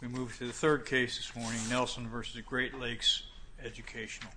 We move to the third case this morning, Nelson v. Great Lakes Educational.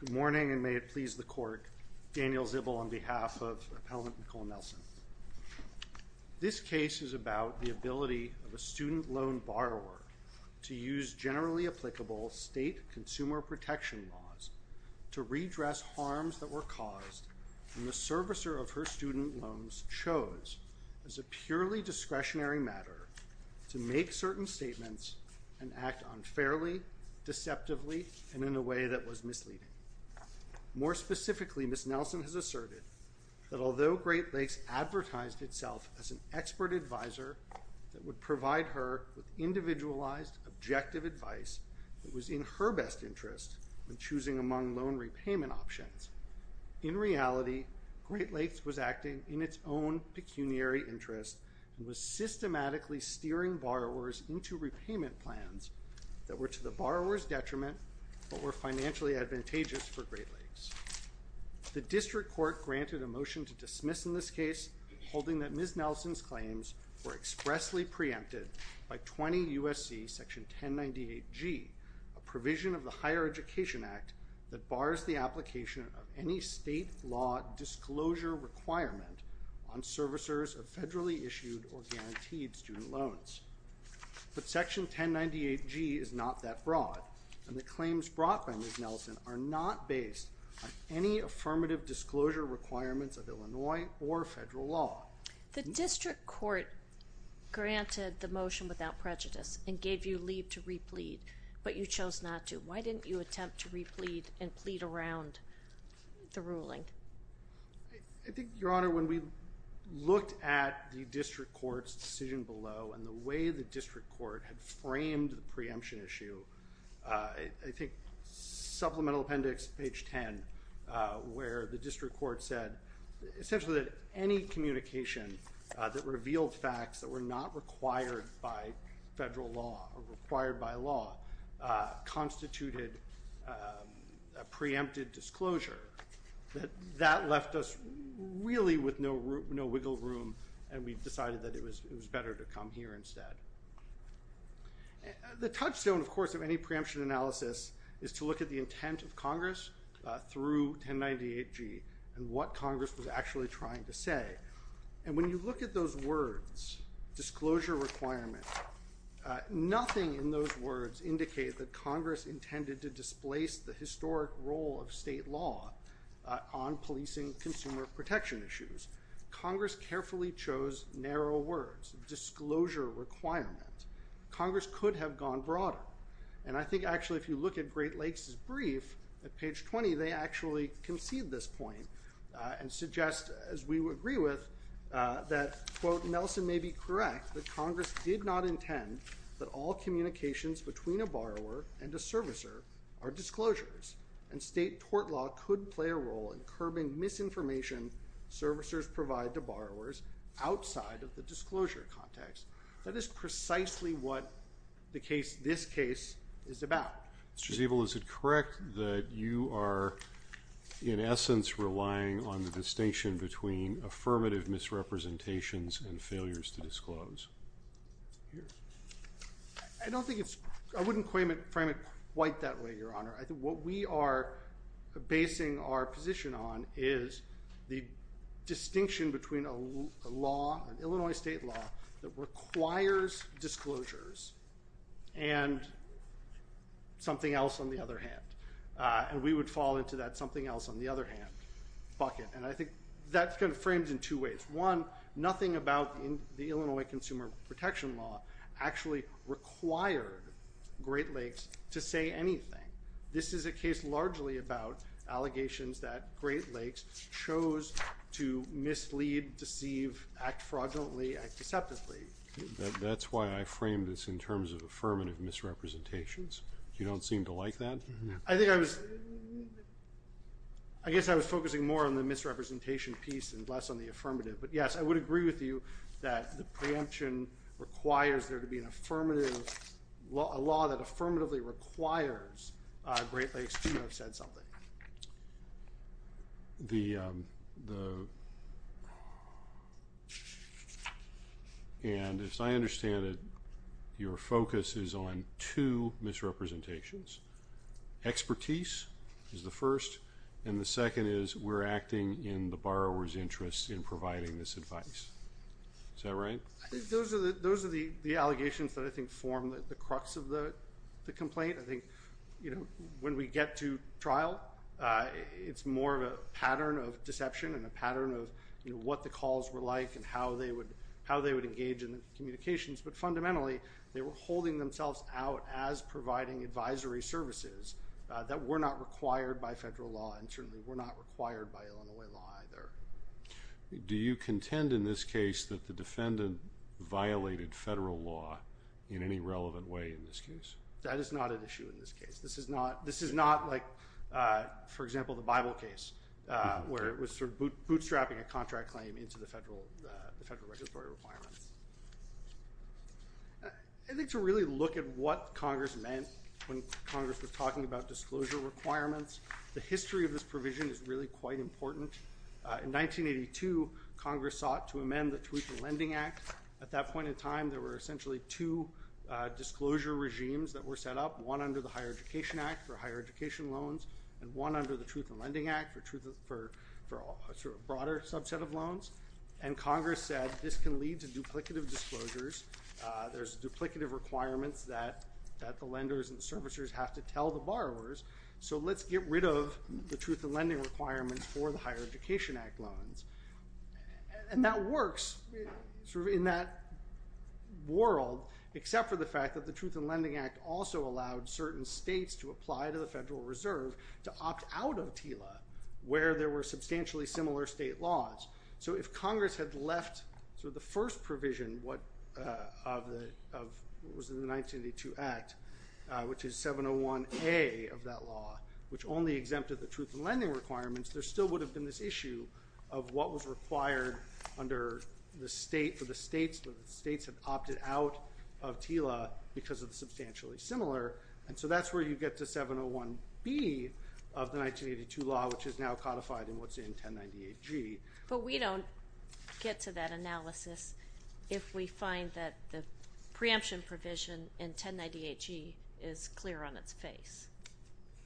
Good morning, and may it please the court, Daniel Zibel on behalf of Appellant Nicole Nelson. This case is about the ability of a student loan borrower to use generally applicable state consumer protection laws to redress harms that were caused when the servicer of unfairly, deceptively, and in a way that was misleading. More specifically, Ms. Nelson has asserted that although Great Lakes advertised itself as an expert advisor that would provide her with individualized, objective advice that was in her best interest when choosing among loan repayment options, in reality, Great Lakes was acting in its own pecuniary interest and was systematically steering borrowers into repayment plans that were to the borrower's detriment but were financially advantageous for Great Lakes. The district court granted a motion to dismiss in this case holding that Ms. Nelson's claims were expressly preempted by 20 U.S.C. section 1098G, a provision of the Higher Education Act that bars the application of any state law disclosure requirement on servicers of But section 1098G is not that broad, and the claims brought by Ms. Nelson are not based on any affirmative disclosure requirements of Illinois or federal law. The district court granted the motion without prejudice and gave you leave to replead, but you chose not to. Why didn't you attempt to replead and plead around the ruling? I think, Your Honor, when we looked at the district court's decision below and the way the district court had framed the preemption issue, I think Supplemental Appendix, page 10, where the district court said essentially that any communication that revealed facts that were not required by federal law or required by law constituted a preempted disclosure. That left us really with no wiggle room, and we decided that it was better to come here instead. The touchstone, of course, of any preemption analysis is to look at the intent of Congress through 1098G and what Congress was actually trying to say. And when you look at those words, disclosure requirement, nothing in those words indicated that Congress intended to displace the historic role of state law on policing consumer protection issues. Congress carefully chose narrow words, disclosure requirement. Congress could have gone broader. And I think, actually, if you look at Great Lakes' brief at page 20, they actually concede this point and suggest, as we would agree with, that, quote, Nelson may be correct, but Congress did not intend that all communications between a borrower and a servicer are disclosures and state tort law could play a role in curbing misinformation servicers provide to borrowers outside of the disclosure context. That is precisely what the case, this case, is about. Mr. Zeebel, is it correct that you are, in essence, relying on the distinction between affirmative misrepresentations and failures to disclose? I don't think it's, I wouldn't frame it quite that way, Your Honor. I think what we are basing our position on is the distinction between a law, an Illinois state law, that requires disclosures and something else on the other hand, and we would fall into that something else on the other hand bucket, and I think that's kind of framed in two ways. One, nothing about the Illinois Consumer Protection Law actually required Great Lakes to say anything. This is a case largely about allegations that Great Lakes chose to mislead, deceive, act fraudulently, act deceptively. That's why I framed this in terms of affirmative misrepresentations. You don't seem to like that? I think I was, I guess I was focusing more on the misrepresentation piece and less on the affirmative, but yes, I would agree with you that the preemption requires there to be an affirmative, a law that affirmatively requires Great Lakes to have said something. The, and as I understand it, your focus is on two misrepresentations. Expertise is the first, and the second is we're acting in the borrower's interest in providing this advice. Is that right? Those are the, those are the allegations that I think form the crux of the complaint. I think, you know, when we get to trial, it's more of a pattern of deception and a pattern of what the calls were like and how they would, how they would engage in the communications, but fundamentally they were holding themselves out as providing advisory services that were not required by federal law and certainly were not required by Illinois law either. Do you contend in this case that the defendant violated federal law in any relevant way in this case? That is not an issue in this case. This is not, this is not like, for example, the Bible case where it was sort of bootstrapping a contract claim into the federal, the federal regulatory requirements. I think to really look at what Congress meant when Congress was talking about disclosure requirements, the history of this provision is really quite important. In 1982, Congress sought to amend the Truth in Lending Act. At that point in time, there were essentially two disclosure regimes that were set up, one under the Higher Education Act for higher education loans and one under the Truth in Lending Act for truth, for a sort of broader subset of loans, and Congress said this can lead to duplicative disclosures. There's duplicative requirements that, that the lenders and the servicers have to tell the borrowers, so let's get rid of the Truth in Lending requirements for the Higher Education Act loans. And that works sort of in that world, except for the fact that the Truth in Lending Act also allowed certain states to apply to the Federal Reserve to opt out of TILA where there were substantially similar state laws. So, if Congress had left sort of the first provision of what was in the 1982 Act, which is 701A of that law, which only exempted the Truth in Lending requirements, there still would have been this issue of what was required under the state for the states where the states had opted out of TILA because of the substantially similar, and so that's where you get to 701B of the 1982 law, which is now codified in what's in 1098G. But we don't get to that analysis if we find that the preemption provision in 1098G is clear on its face.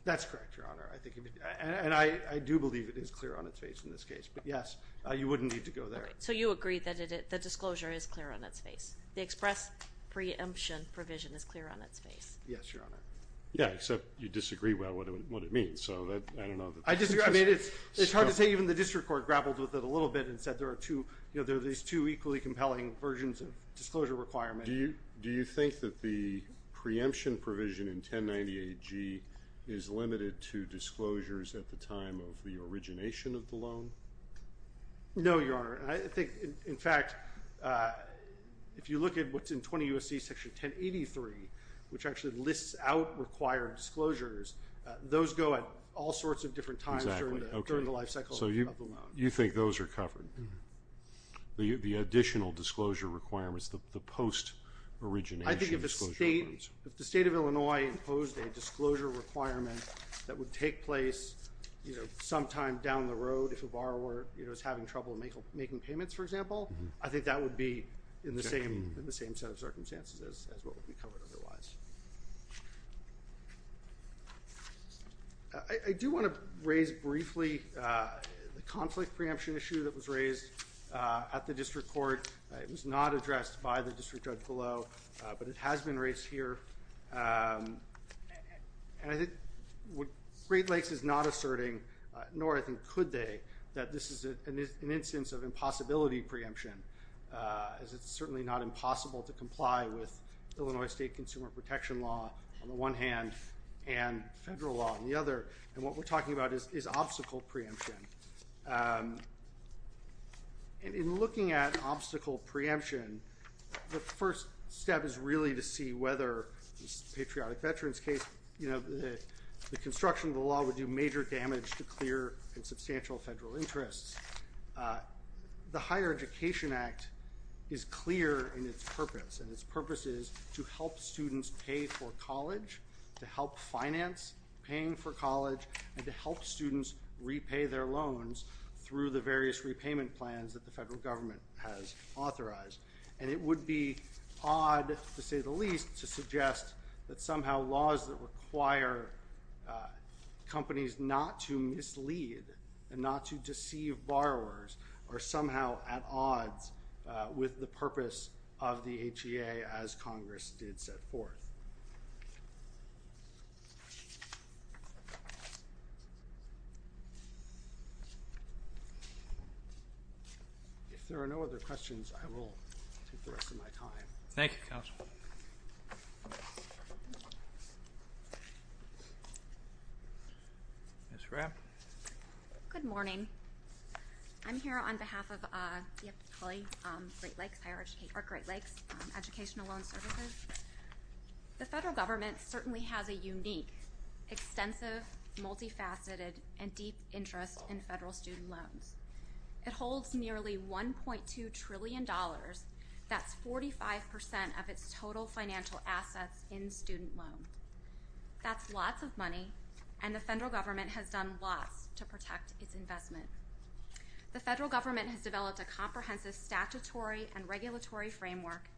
That's correct, Your Honor. I think, and I do believe it is clear on its face in this case, but yes, you wouldn't need to go there. Okay. So you agree that the disclosure is clear on its face? The express preemption provision is clear on its face? Yes, Your Honor. Yeah, except you disagree about what it means, so I don't know. I disagree. I mean, it's hard to say. Even the district court grappled with it a little bit and said there are these two equally compelling versions of disclosure requirement. Do you think that the preemption provision in 1098G is limited to disclosures at the time of the origination of the loan? No, Your Honor. I think, in fact, if you look at what's in 20 U.S.C. Section 1083, which actually lists out required disclosures, those go at all sorts of different times during the life cycle of the loan. So you think those are covered? The additional disclosure requirements, the post-origination disclosure requirements? I think if the state of Illinois imposed a disclosure requirement that would take place sometime down the road if a borrower is having trouble making payments, for example, I think that would be in the same set of circumstances as what would be covered otherwise. I do want to raise briefly the conflict preemption issue that was raised at the district court. It was not addressed by the district judge below, but it has been raised here. And I think Great Lakes is not asserting, nor I think could they, that this is an instance of impossibility preemption, as it's certainly not impossible to comply with Illinois state consumer protection law on the one hand and federal law on the other. And what we're talking about is obstacle preemption. In looking at obstacle preemption, the first step is really to see whether, in the patriotic veterans case, the construction of the law would do major damage to clear and substantial federal interests. The Higher Education Act is clear in its purpose, and its purpose is to help students pay for college, to help finance paying for college, and to help students repay their loans through the various repayment plans that the federal government has authorized. And it would be odd, to say the least, to suggest that somehow laws that require companies not to mislead and not to deceive borrowers are somehow at odds with the purpose of the HEA, as Congress did set forth. If there are no other questions, I will take the rest of my time. Thank you, Counsel. Ms. Rapp. Good morning. I'm here on behalf of the Great Lakes Educational Loan Services. The federal government certainly has a unique, extensive, multifaceted, and deep interest in federal student loans. It holds nearly $1.2 trillion. That's 45% of its total financial assets in student loans. That's lots of money, and the federal government has done lots to protect its investment. The federal government has developed a comprehensive statutory and regulatory framework,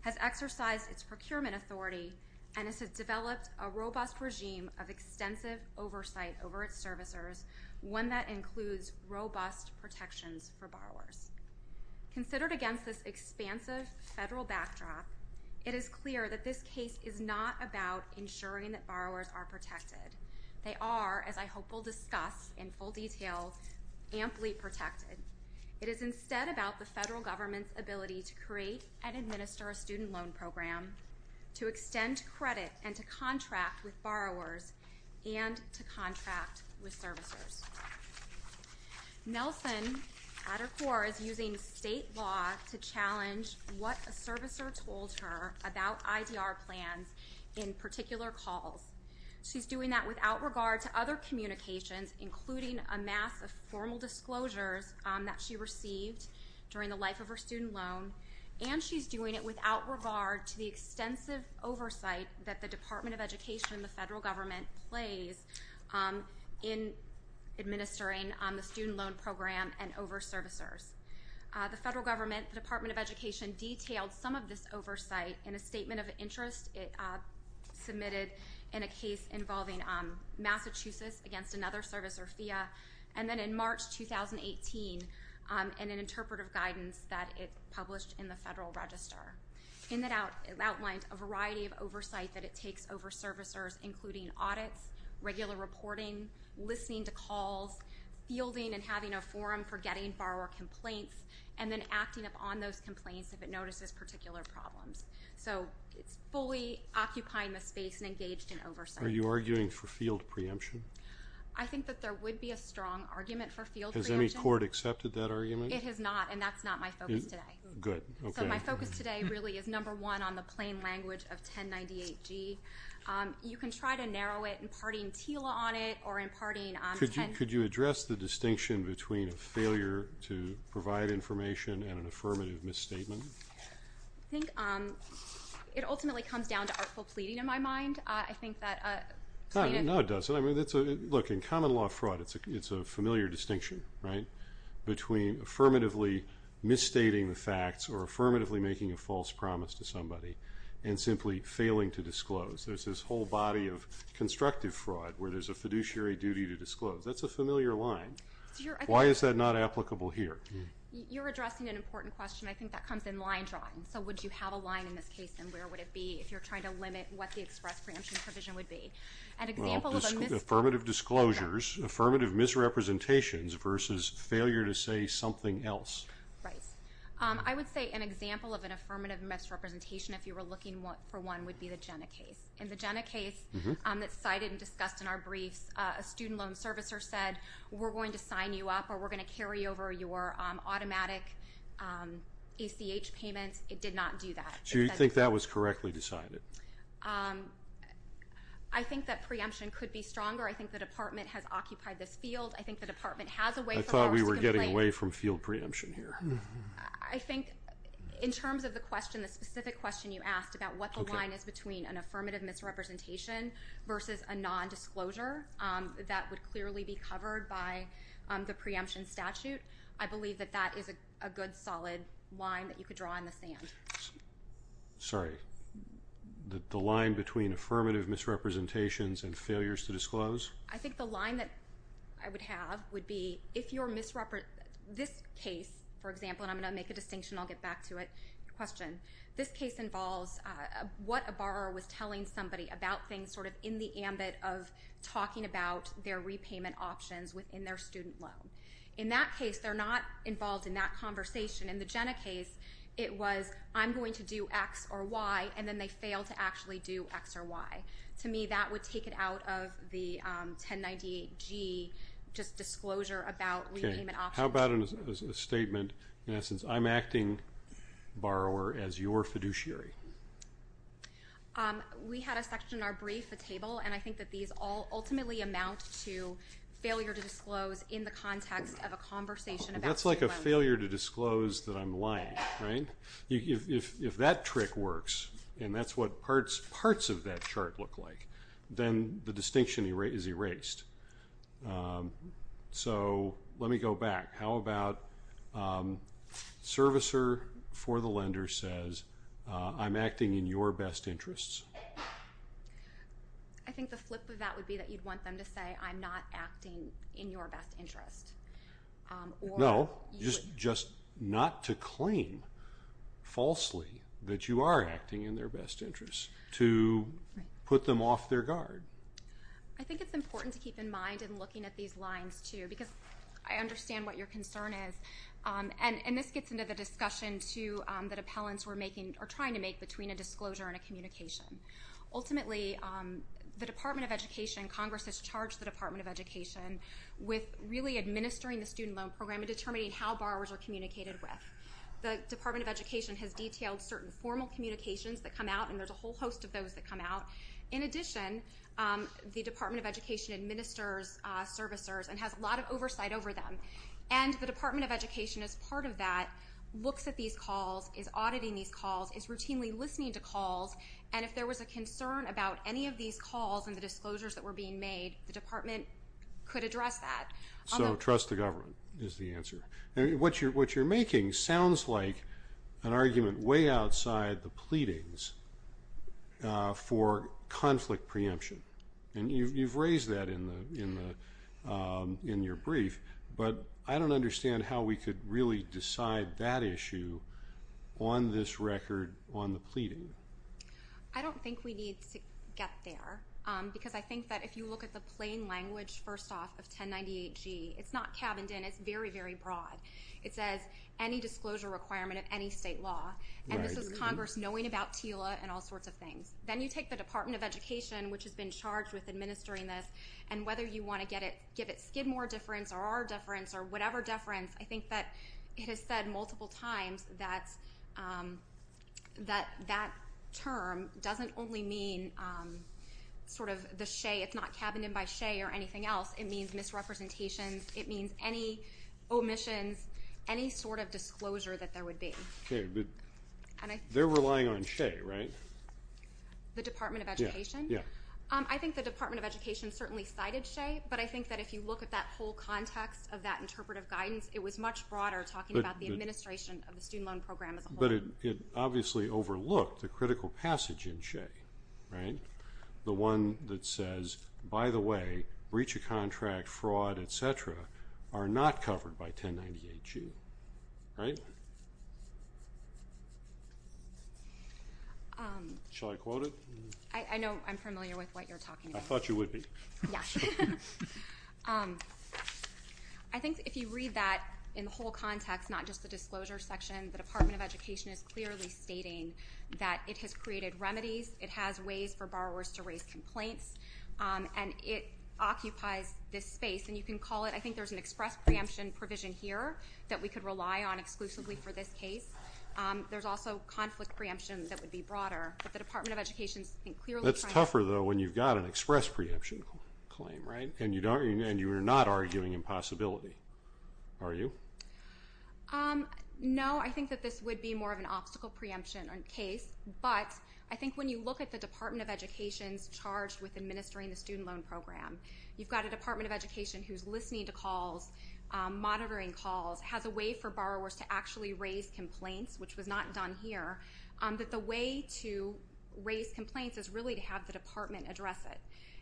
has exercised its procurement authority, and has developed a robust regime of extensive oversight over its servicers, one that includes robust protections for borrowers. Considered against this expansive federal backdrop, it is clear that this case is not about ensuring that borrowers are protected. They are, as I hope we'll discuss in full detail, amply protected. It is instead about the federal government's ability to create and administer a student loan program, to extend credit, and to contract with borrowers, and to contract with servicers. Nelson, at her core, is using state law to challenge what a servicer told her about IDR plans in particular calls. She's doing that without regard to other communications, including a mass of formal disclosures that she received during the life of her student loan, and she's doing it without regard to the extensive oversight that the Department of Education and the federal government plays in administering the student loan program and over servicers. The federal government, the Department of Education, detailed some of this oversight in a statement of interest submitted in a case involving Massachusetts against another servicer, FIA, and then in March 2018, in an interpretive guidance that it published in the Federal Register. In it, it outlined a variety of oversight that it takes over servicers, including audits, regular reporting, listening to calls, fielding and having a forum for getting borrower complaints, and then acting upon those complaints if it notices particular problems. So it's fully occupying the space and engaged in oversight. Are you arguing for field preemption? I think that there would be a strong argument for field preemption. Has any court accepted that argument? It has not, and that's not my focus today. Good. Okay. So my focus today really is number one on the plain language of 1098G. You can try to narrow it, imparting TILA on it or imparting 10... Could you address the distinction between a failure to provide information and an affirmative misstatement? I think it ultimately comes down to artful pleading in my mind. I think that... No, it doesn't. Look, in common law fraud, it's a familiar distinction, right, between affirmatively misstating the facts or affirmatively making a false promise to somebody and simply failing to disclose. There's this whole body of constructive fraud where there's a fiduciary duty to disclose. That's a familiar line. Why is that not applicable here? You're addressing an important question. I think that comes in line drawing. So would you have a line in this case, and where would it be if you're trying to limit what the express preemption provision would be? Affirmative disclosures, affirmative misrepresentations versus failure to say something else. Right. I would say an example of an affirmative misrepresentation, if you were looking for one, would be the Jenna case. In the Jenna case that's cited and discussed in our briefs, a student loan servicer said, we're going to sign you up or we're going to carry over your automatic ACH payments. It did not do that. So you think that was correctly decided? I think that preemption could be stronger. I think the Department has occupied this field. I think the Department has a way for us to complain. I thought we were getting away from field preemption here. I think in terms of the specific question you asked about what the line is between an affirmative misrepresentation versus a nondisclosure, that would clearly be covered by the preemption statute. I believe that that is a good, solid line that you could draw in the sand. Sorry. The line between affirmative misrepresentations and failures to disclose? I think the line that I would have would be if you're misrepresenting. This case, for example, and I'm going to make a distinction and I'll get back to it. Question. This case involves what a borrower was telling somebody about things sort of in the ambit of talking about their repayment options within their student loan. In that case, they're not involved in that conversation. In the Jenna case, it was I'm going to do X or Y, and then they fail to actually do X or Y. To me, that would take it out of the 1098G, just disclosure about repayment options. Okay. How about a statement, in essence, I'm acting, borrower, as your fiduciary? We had a section in our brief, a table, and I think that these all ultimately amount to failure to disclose in the context of a conversation about student loans. That's like a failure to disclose that I'm lying, right? If that trick works, and that's what parts of that chart look like, then the distinction is erased. So let me go back. How about servicer for the lender says, I'm acting in your best interests? I think the flip of that would be that you'd want them to say, I'm not acting in your best interest. No, just not to claim falsely that you are acting in their best interest, to put them off their guard. I think it's important to keep in mind in looking at these lines, too, because I understand what your concern is. And this gets into the discussion, too, that appellants are trying to make between a disclosure and a communication. Ultimately, the Department of Education, Congress has charged the Department of Education with really administering the student loan program and determining how borrowers are communicated with. The Department of Education has detailed certain formal communications that come out, and there's a whole host of those that come out. In addition, the Department of Education administers servicers and has a lot of oversight over them. And the Department of Education, as part of that, looks at these calls, is auditing these calls, is routinely listening to calls, and if there was a concern about any of these calls and the disclosures that were being made, the department could address that. So trust the government is the answer. What you're making sounds like an argument way outside the pleadings for conflict preemption, and you've raised that in your brief, but I don't understand how we could really decide that issue on this record on the pleading. I don't think we need to get there because I think that if you look at the plain language, first off, of 1098-G, it's not cabined in. It's very, very broad. It says any disclosure requirement of any state law, and this is Congress knowing about TILA and all sorts of things. Then you take the Department of Education, which has been charged with administering this, and whether you want to give it Skidmore deference or our deference or whatever deference, I think that it has said multiple times that that term doesn't only mean sort of the shea. It's not cabined in by shea or anything else. It means misrepresentations. It means any omissions, any sort of disclosure that there would be. Okay, but they're relying on shea, right? The Department of Education? Yeah. I think the Department of Education certainly cited shea, but I think that if you look at that whole context of that interpretive guidance, it was much broader talking about the administration of the student loan program as a whole. But it obviously overlooked the critical passage in shea, right? The one that says, by the way, breach of contract, fraud, et cetera, are not covered by 1098-G, right? Shall I quote it? I know I'm familiar with what you're talking about. I thought you would be. Yeah. I think if you read that in the whole context, not just the disclosure section, the Department of Education is clearly stating that it has created remedies, it has ways for borrowers to raise complaints, and it occupies this space. And you can call it, I think there's an express preemption provision here that we could rely on exclusively for this case. There's also conflict preemption that would be broader. But the Department of Education is clearly trying to. That's tougher, though, when you've got an express preemption claim, right? And you are not arguing impossibility, are you? No, I think that this would be more of an obstacle preemption case. But I think when you look at the Department of Education's charge with administering the student loan program, you've got a Department of Education who's listening to calls, monitoring calls, has a way for borrowers to actually raise complaints, which was not done here. But the way to raise complaints is really to have the department address it.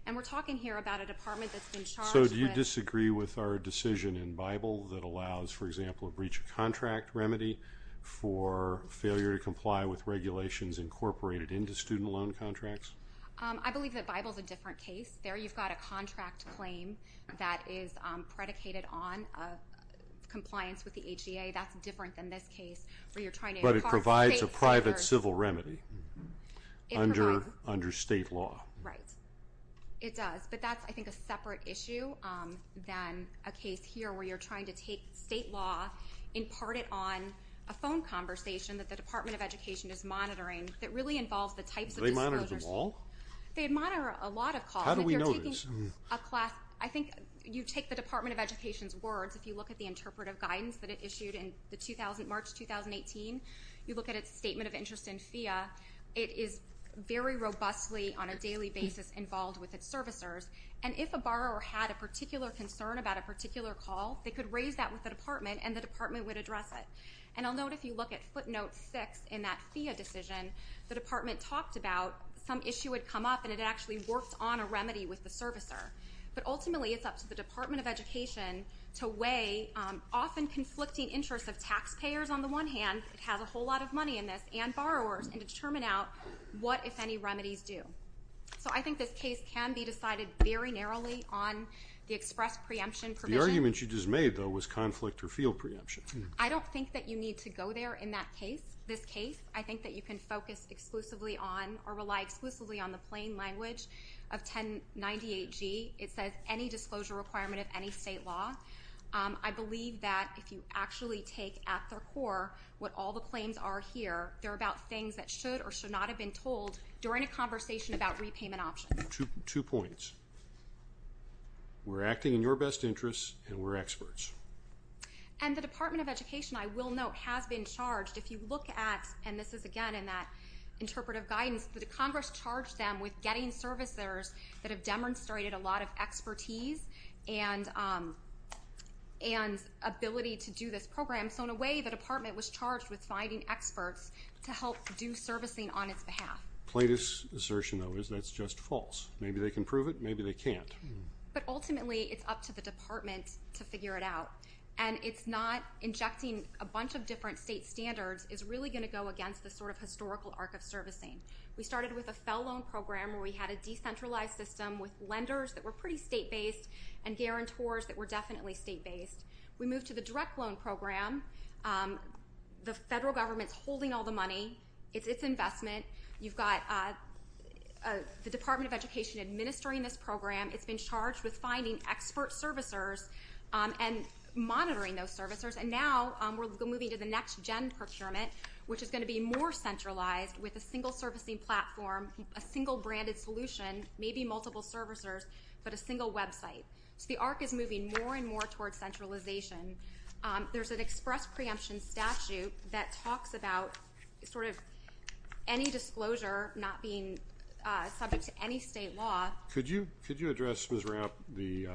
And we're talking here about a department that's been charged with. So do you disagree with our decision in Bible that allows, for example, a breach of contract remedy for failure to comply with regulations incorporated into student loan contracts? I believe that Bible's a different case. There you've got a contract claim that is predicated on compliance with the HDA. That's different than this case where you're trying to. But it provides a private civil remedy under state law. Right. It does. But that's, I think, a separate issue than a case here where you're trying to take state law, impart it on a phone conversation that the Department of Education is monitoring that really involves the types of disclosures. Do they monitor them all? They monitor a lot of calls. How do we know this? I think you take the Department of Education's words, if you look at the interpretive guidance that it issued in March 2018, you look at its statement of interest in FEA, it is very robustly on a daily basis involved with its servicers. And if a borrower had a particular concern about a particular call, they could raise that with the department and the department would address it. And I'll note if you look at footnote six in that FEA decision, the department talked about some issue had come up and it actually worked on a remedy with the servicer. But ultimately it's up to the Department of Education to weigh often conflicting interests of taxpayers on the one hand, it has a whole lot of money in this, and borrowers, and determine out what, if any, remedies do. So I think this case can be decided very narrowly on the express preemption provision. The argument you just made, though, was conflict or field preemption. I don't think that you need to go there in that case, this case. I think that you can focus exclusively on or rely exclusively on the plain language of 1098G. It says any disclosure requirement of any state law. I believe that if you actually take at their core what all the claims are here, they're about things that should or should not have been told during a conversation about repayment options. Two points. We're acting in your best interest and we're experts. And the Department of Education, I will note, has been charged. If you look at, and this is, again, in that interpretive guidance, the Congress charged them with getting servicers that have demonstrated a lot of expertise and ability to do this program. So in a way the department was charged with finding experts to help do servicing on its behalf. Plato's assertion, though, is that's just false. Maybe they can prove it, maybe they can't. But ultimately it's up to the department to figure it out. And it's not injecting a bunch of different state standards is really going to go against the sort of historical arc of servicing. We started with a fell loan program where we had a decentralized system with lenders that were pretty state-based and guarantors that were definitely state-based. We moved to the direct loan program. The federal government's holding all the money. It's investment. You've got the Department of Education administering this program. It's been charged with finding expert servicers and monitoring those servicers. And now we're moving to the next-gen procurement, which is going to be more centralized with a single servicing platform, a single branded solution, maybe multiple servicers, but a single website. So the arc is moving more and more towards centralization. There's an express preemption statute that talks about sort of any disclosure not being subject to any state law. Could you address, Ms. Rapp, the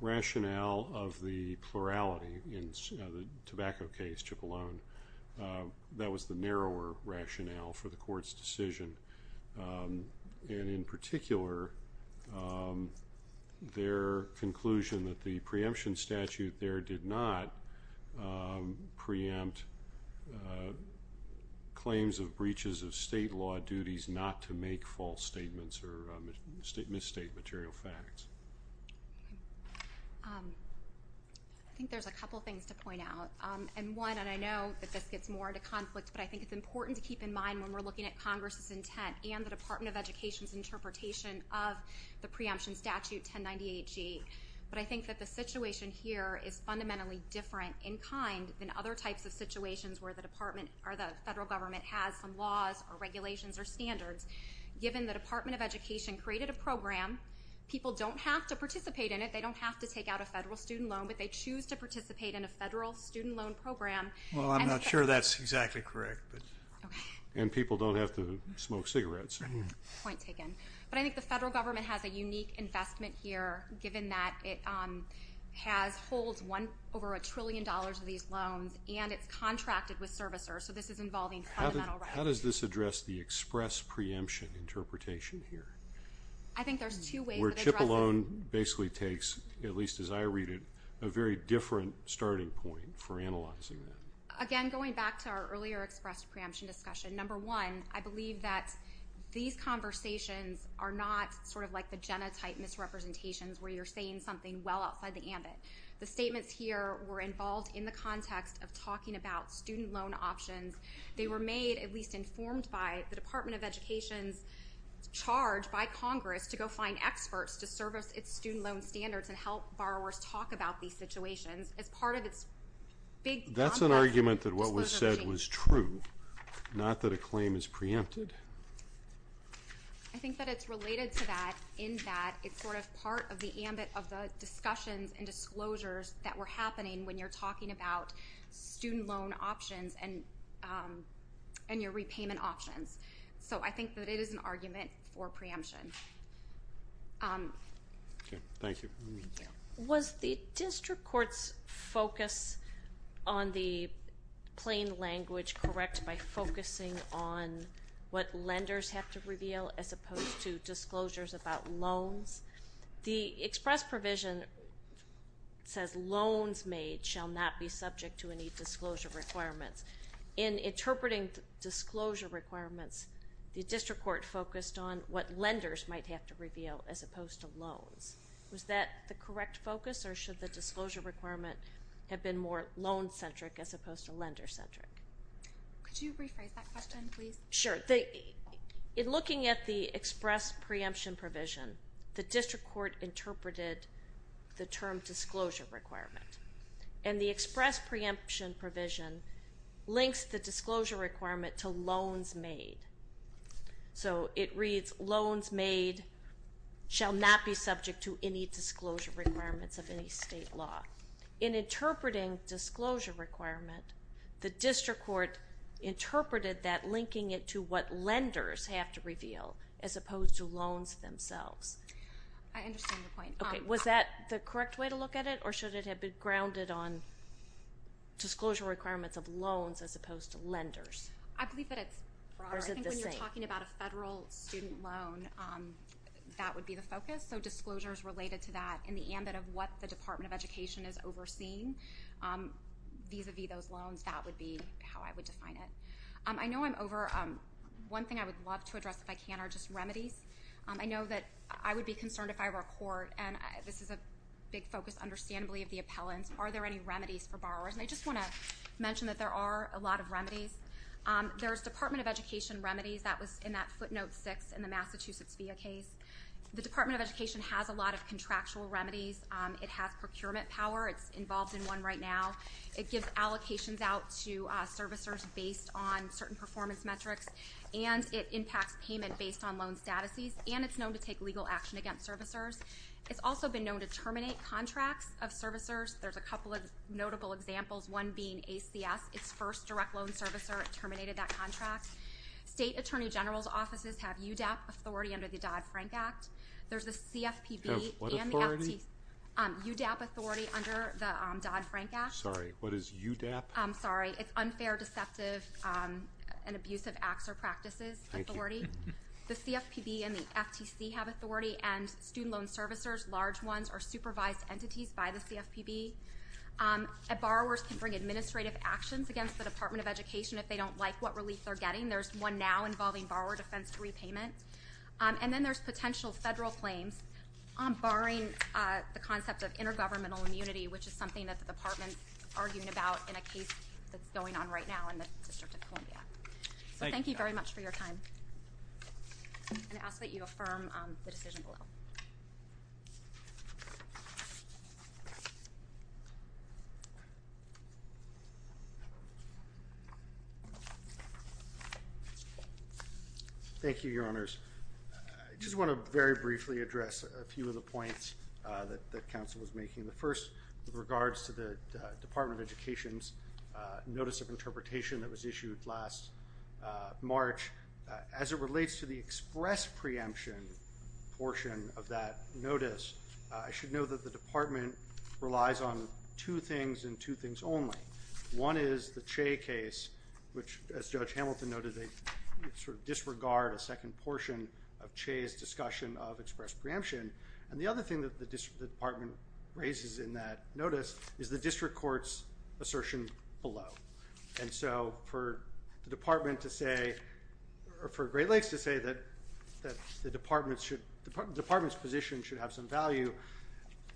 rationale of the plurality in the tobacco case, Cipollone? That was the narrower rationale for the court's decision. And in particular, their conclusion that the preemption statute there did not preempt claims of breaches of state law duties not to make false statements or misstate material facts. I think there's a couple things to point out. And one, and I know that this gets more into conflict, but I think it's important to keep in mind when we're looking at Congress's intent and the Department of Education's interpretation of the preemption statute 1098G, but I think that the situation here is fundamentally different in kind than other types of situations where the federal government has some laws or regulations or standards. Given the Department of Education created a program, people don't have to participate in it. They don't have to take out a federal student loan, but they choose to participate in a federal student loan program. Well, I'm not sure that's exactly correct. And people don't have to smoke cigarettes. Point taken. But I think the federal government has a unique investment here, given that it holds over $1 trillion of these loans, and it's contracted with servicers. So this is involving fundamental rights. How does this address the express preemption interpretation here? I think there's two ways of addressing it. Where Chipalone basically takes, at least as I read it, a very different starting point for analyzing that. Again, going back to our earlier express preemption discussion, number one, I believe that these conversations are not sort of like the genotype misrepresentations where you're saying something well outside the ambit. The statements here were involved in the context of talking about student loan options. They were made, at least informed by, the Department of Education's charge by Congress to go find experts to service its student loan standards and help borrowers talk about these situations. As part of its big, complex disclosure regime. That's an argument that what was said was true, not that a claim is preempted. I think that it's related to that in that it's sort of part of the ambit of the discussions and disclosures that were happening when you're talking about student loan options and your repayment options. So I think that it is an argument for preemption. Thank you. Was the district court's focus on the plain language correct by focusing on what lenders have to reveal as opposed to disclosures about loans? The express provision says loans made shall not be subject to any disclosure requirements. In interpreting disclosure requirements, the district court focused on what lenders might have to reveal as opposed to loans. Was that the correct focus or should the disclosure requirement have been more loan-centric as opposed to lender-centric? Could you rephrase that question, please? Sure. In looking at the express preemption provision, the district court interpreted the term disclosure requirement. And the express preemption provision links the disclosure requirement to loans made. So it reads loans made shall not be subject to any disclosure requirements of any state law. In interpreting disclosure requirement, the district court interpreted that linking it to what lenders have to reveal as opposed to loans themselves. I understand your point. Was that the correct way to look at it or should it have been grounded on disclosure requirements of loans as opposed to lenders? I believe that it's broader. Or is it the same? I think when you're talking about a federal student loan, that would be the focus. So disclosures related to that in the ambit of what the Department of Education is overseeing vis-à-vis those loans, that would be how I would define it. I know I'm over. One thing I would love to address if I can are just remedies. I know that I would be concerned if I were a court, and this is a big focus, understandably, of the appellants. Are there any remedies for borrowers? And I just want to mention that there are a lot of remedies. There's Department of Education remedies. That was in that footnote six in the Massachusetts via case. The Department of Education has a lot of contractual remedies. It has procurement power. It's involved in one right now. It gives allocations out to servicers based on certain performance metrics, and it impacts payment based on loan statuses, and it's known to take legal action against servicers. It's also been known to terminate contracts of servicers. There's a couple of notable examples, one being ACS. Its first direct loan servicer terminated that contract. State Attorney General's offices have UDAP authority under the Dodd-Frank Act. There's the CFPB and the FTC. Have what authority? UDAP authority under the Dodd-Frank Act. Sorry, what is UDAP? I'm sorry. It's unfair, deceptive, and abusive acts or practices authority. Thank you. The CFPB and the FTC have authority, and student loan servicers, large ones, are supervised entities by the CFPB. Borrowers can bring administrative actions against the Department of Education if they don't like what relief they're getting. There's one now involving borrower defense to repayment. And then there's potential federal claims, barring the concept of intergovernmental immunity, which is something that the Department is arguing about in a case that's going on right now in the District of Columbia. So thank you very much for your time. And I ask that you affirm the decision below. Thank you, Your Honors. I just want to very briefly address a few of the points that counsel was making. The first regards to the Department of Education's notice of interpretation that was issued last March. As it relates to the express preemption portion of that notice, I should note that the Department relies on two things and two things only. One is the Che case, which, as Judge Hamilton noted, they sort of disregard a second portion of Che's discussion of express preemption. And the other thing that the Department raises in that notice is the district court's assertion below. And so for the Department to say or for Great Lakes to say that the Department's position should have some value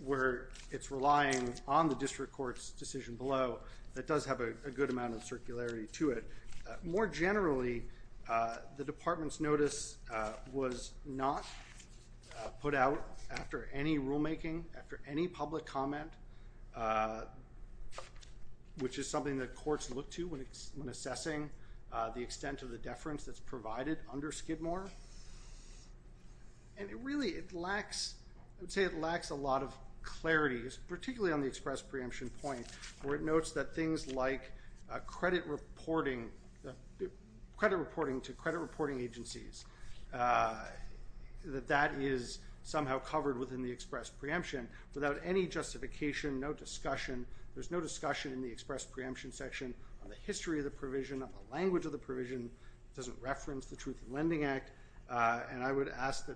where it's relying on the district court's decision below, that does have a good amount of circularity to it. More generally, the Department's notice was not put out after any rulemaking, after any public comment, which is something that courts look to when assessing the extent of the deference that's provided under Skidmore. And really it lacks, I would say it lacks a lot of clarity, particularly on the express preemption point, where it notes that things like credit reporting to credit reporting agencies, that that is somehow covered within the express preemption without any justification, no discussion. There's no discussion in the express preemption section on the history of the provision, on the language of the provision. It doesn't reference the Truth in Lending Act. And I would ask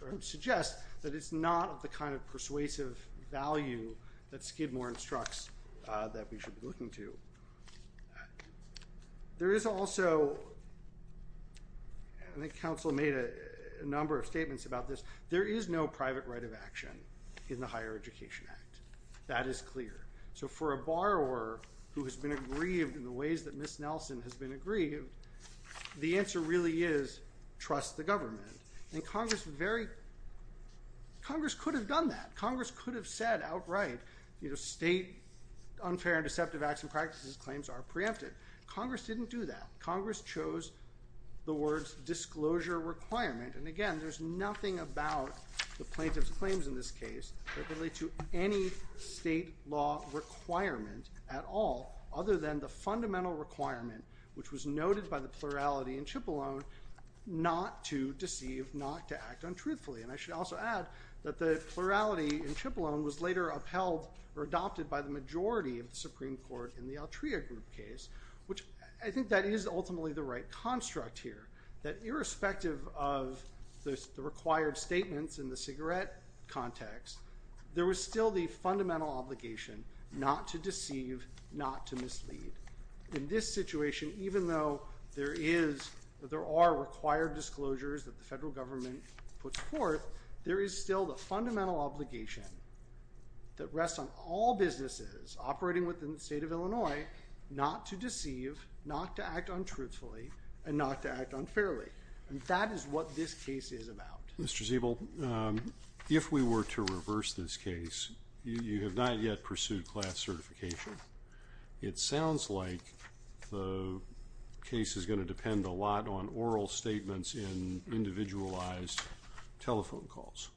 or suggest that it's not the kind of persuasive value that Skidmore instructs that we should be looking to. There is also, I think counsel made a number of statements about this, there is no private right of action in the Higher Education Act. That is clear. So for a borrower who has been aggrieved in the ways that Ms. Nelson has been aggrieved, the answer really is trust the government. And Congress could have done that. Congress could have said outright state unfair and deceptive acts and practices claims are preempted. Congress didn't do that. Congress chose the words disclosure requirement. And again, there's nothing about the plaintiff's claims in this case that relate to any state law requirement at all, other than the fundamental requirement, which was noted by the plurality in Cipollone, not to deceive, not to act untruthfully. And I should also add that the plurality in Cipollone was later upheld or adopted by the majority of the Supreme Court in the Altria group case, which I think that is ultimately the right construct here, that irrespective of the required statements in the cigarette context, there was still the fundamental obligation not to deceive, not to mislead. In this situation, even though there are required disclosures that the federal government puts forth, there is still the fundamental obligation that rests on all businesses operating within the state of Illinois not to deceive, not to act untruthfully and not to act unfairly. And that is what this case is about. Mr. Ziebel, if we were to reverse this case, you have not yet pursued class certification. It sounds like the case is going to depend a lot on oral statements in individualized telephone calls.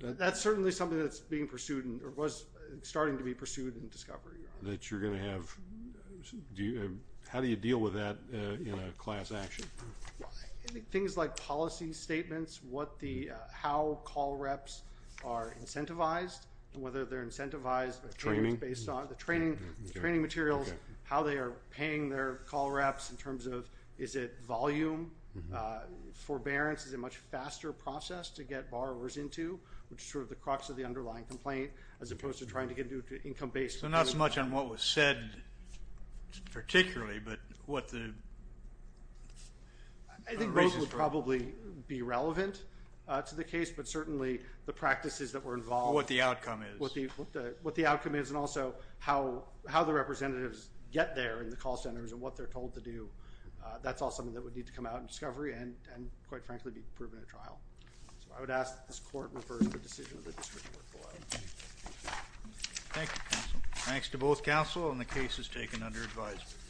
That's certainly something that's being pursued or was starting to be pursued in discovery. That you're going to have, how do you deal with that in a class action? I think things like policy statements, how call reps are incentivized, whether they're incentivized based on the training materials, how they are paying their call reps in terms of is it volume, forbearance, is it a much faster process to get borrowers into which is sort of the crux of the underlying complaint as opposed to trying to get So not so much on what was said particularly, but what the basis for it. I think most would probably be relevant to the case, but certainly the practices that were involved. What the outcome is. What the outcome is and also how the representatives get there in the call centers and what they're told to do, that's all something that would need to come out in discovery and quite frankly be proven at trial. So I would ask that this court reverse the decision of the district court. Thank you, counsel. Thanks to both counsel and the case is taken under advisement.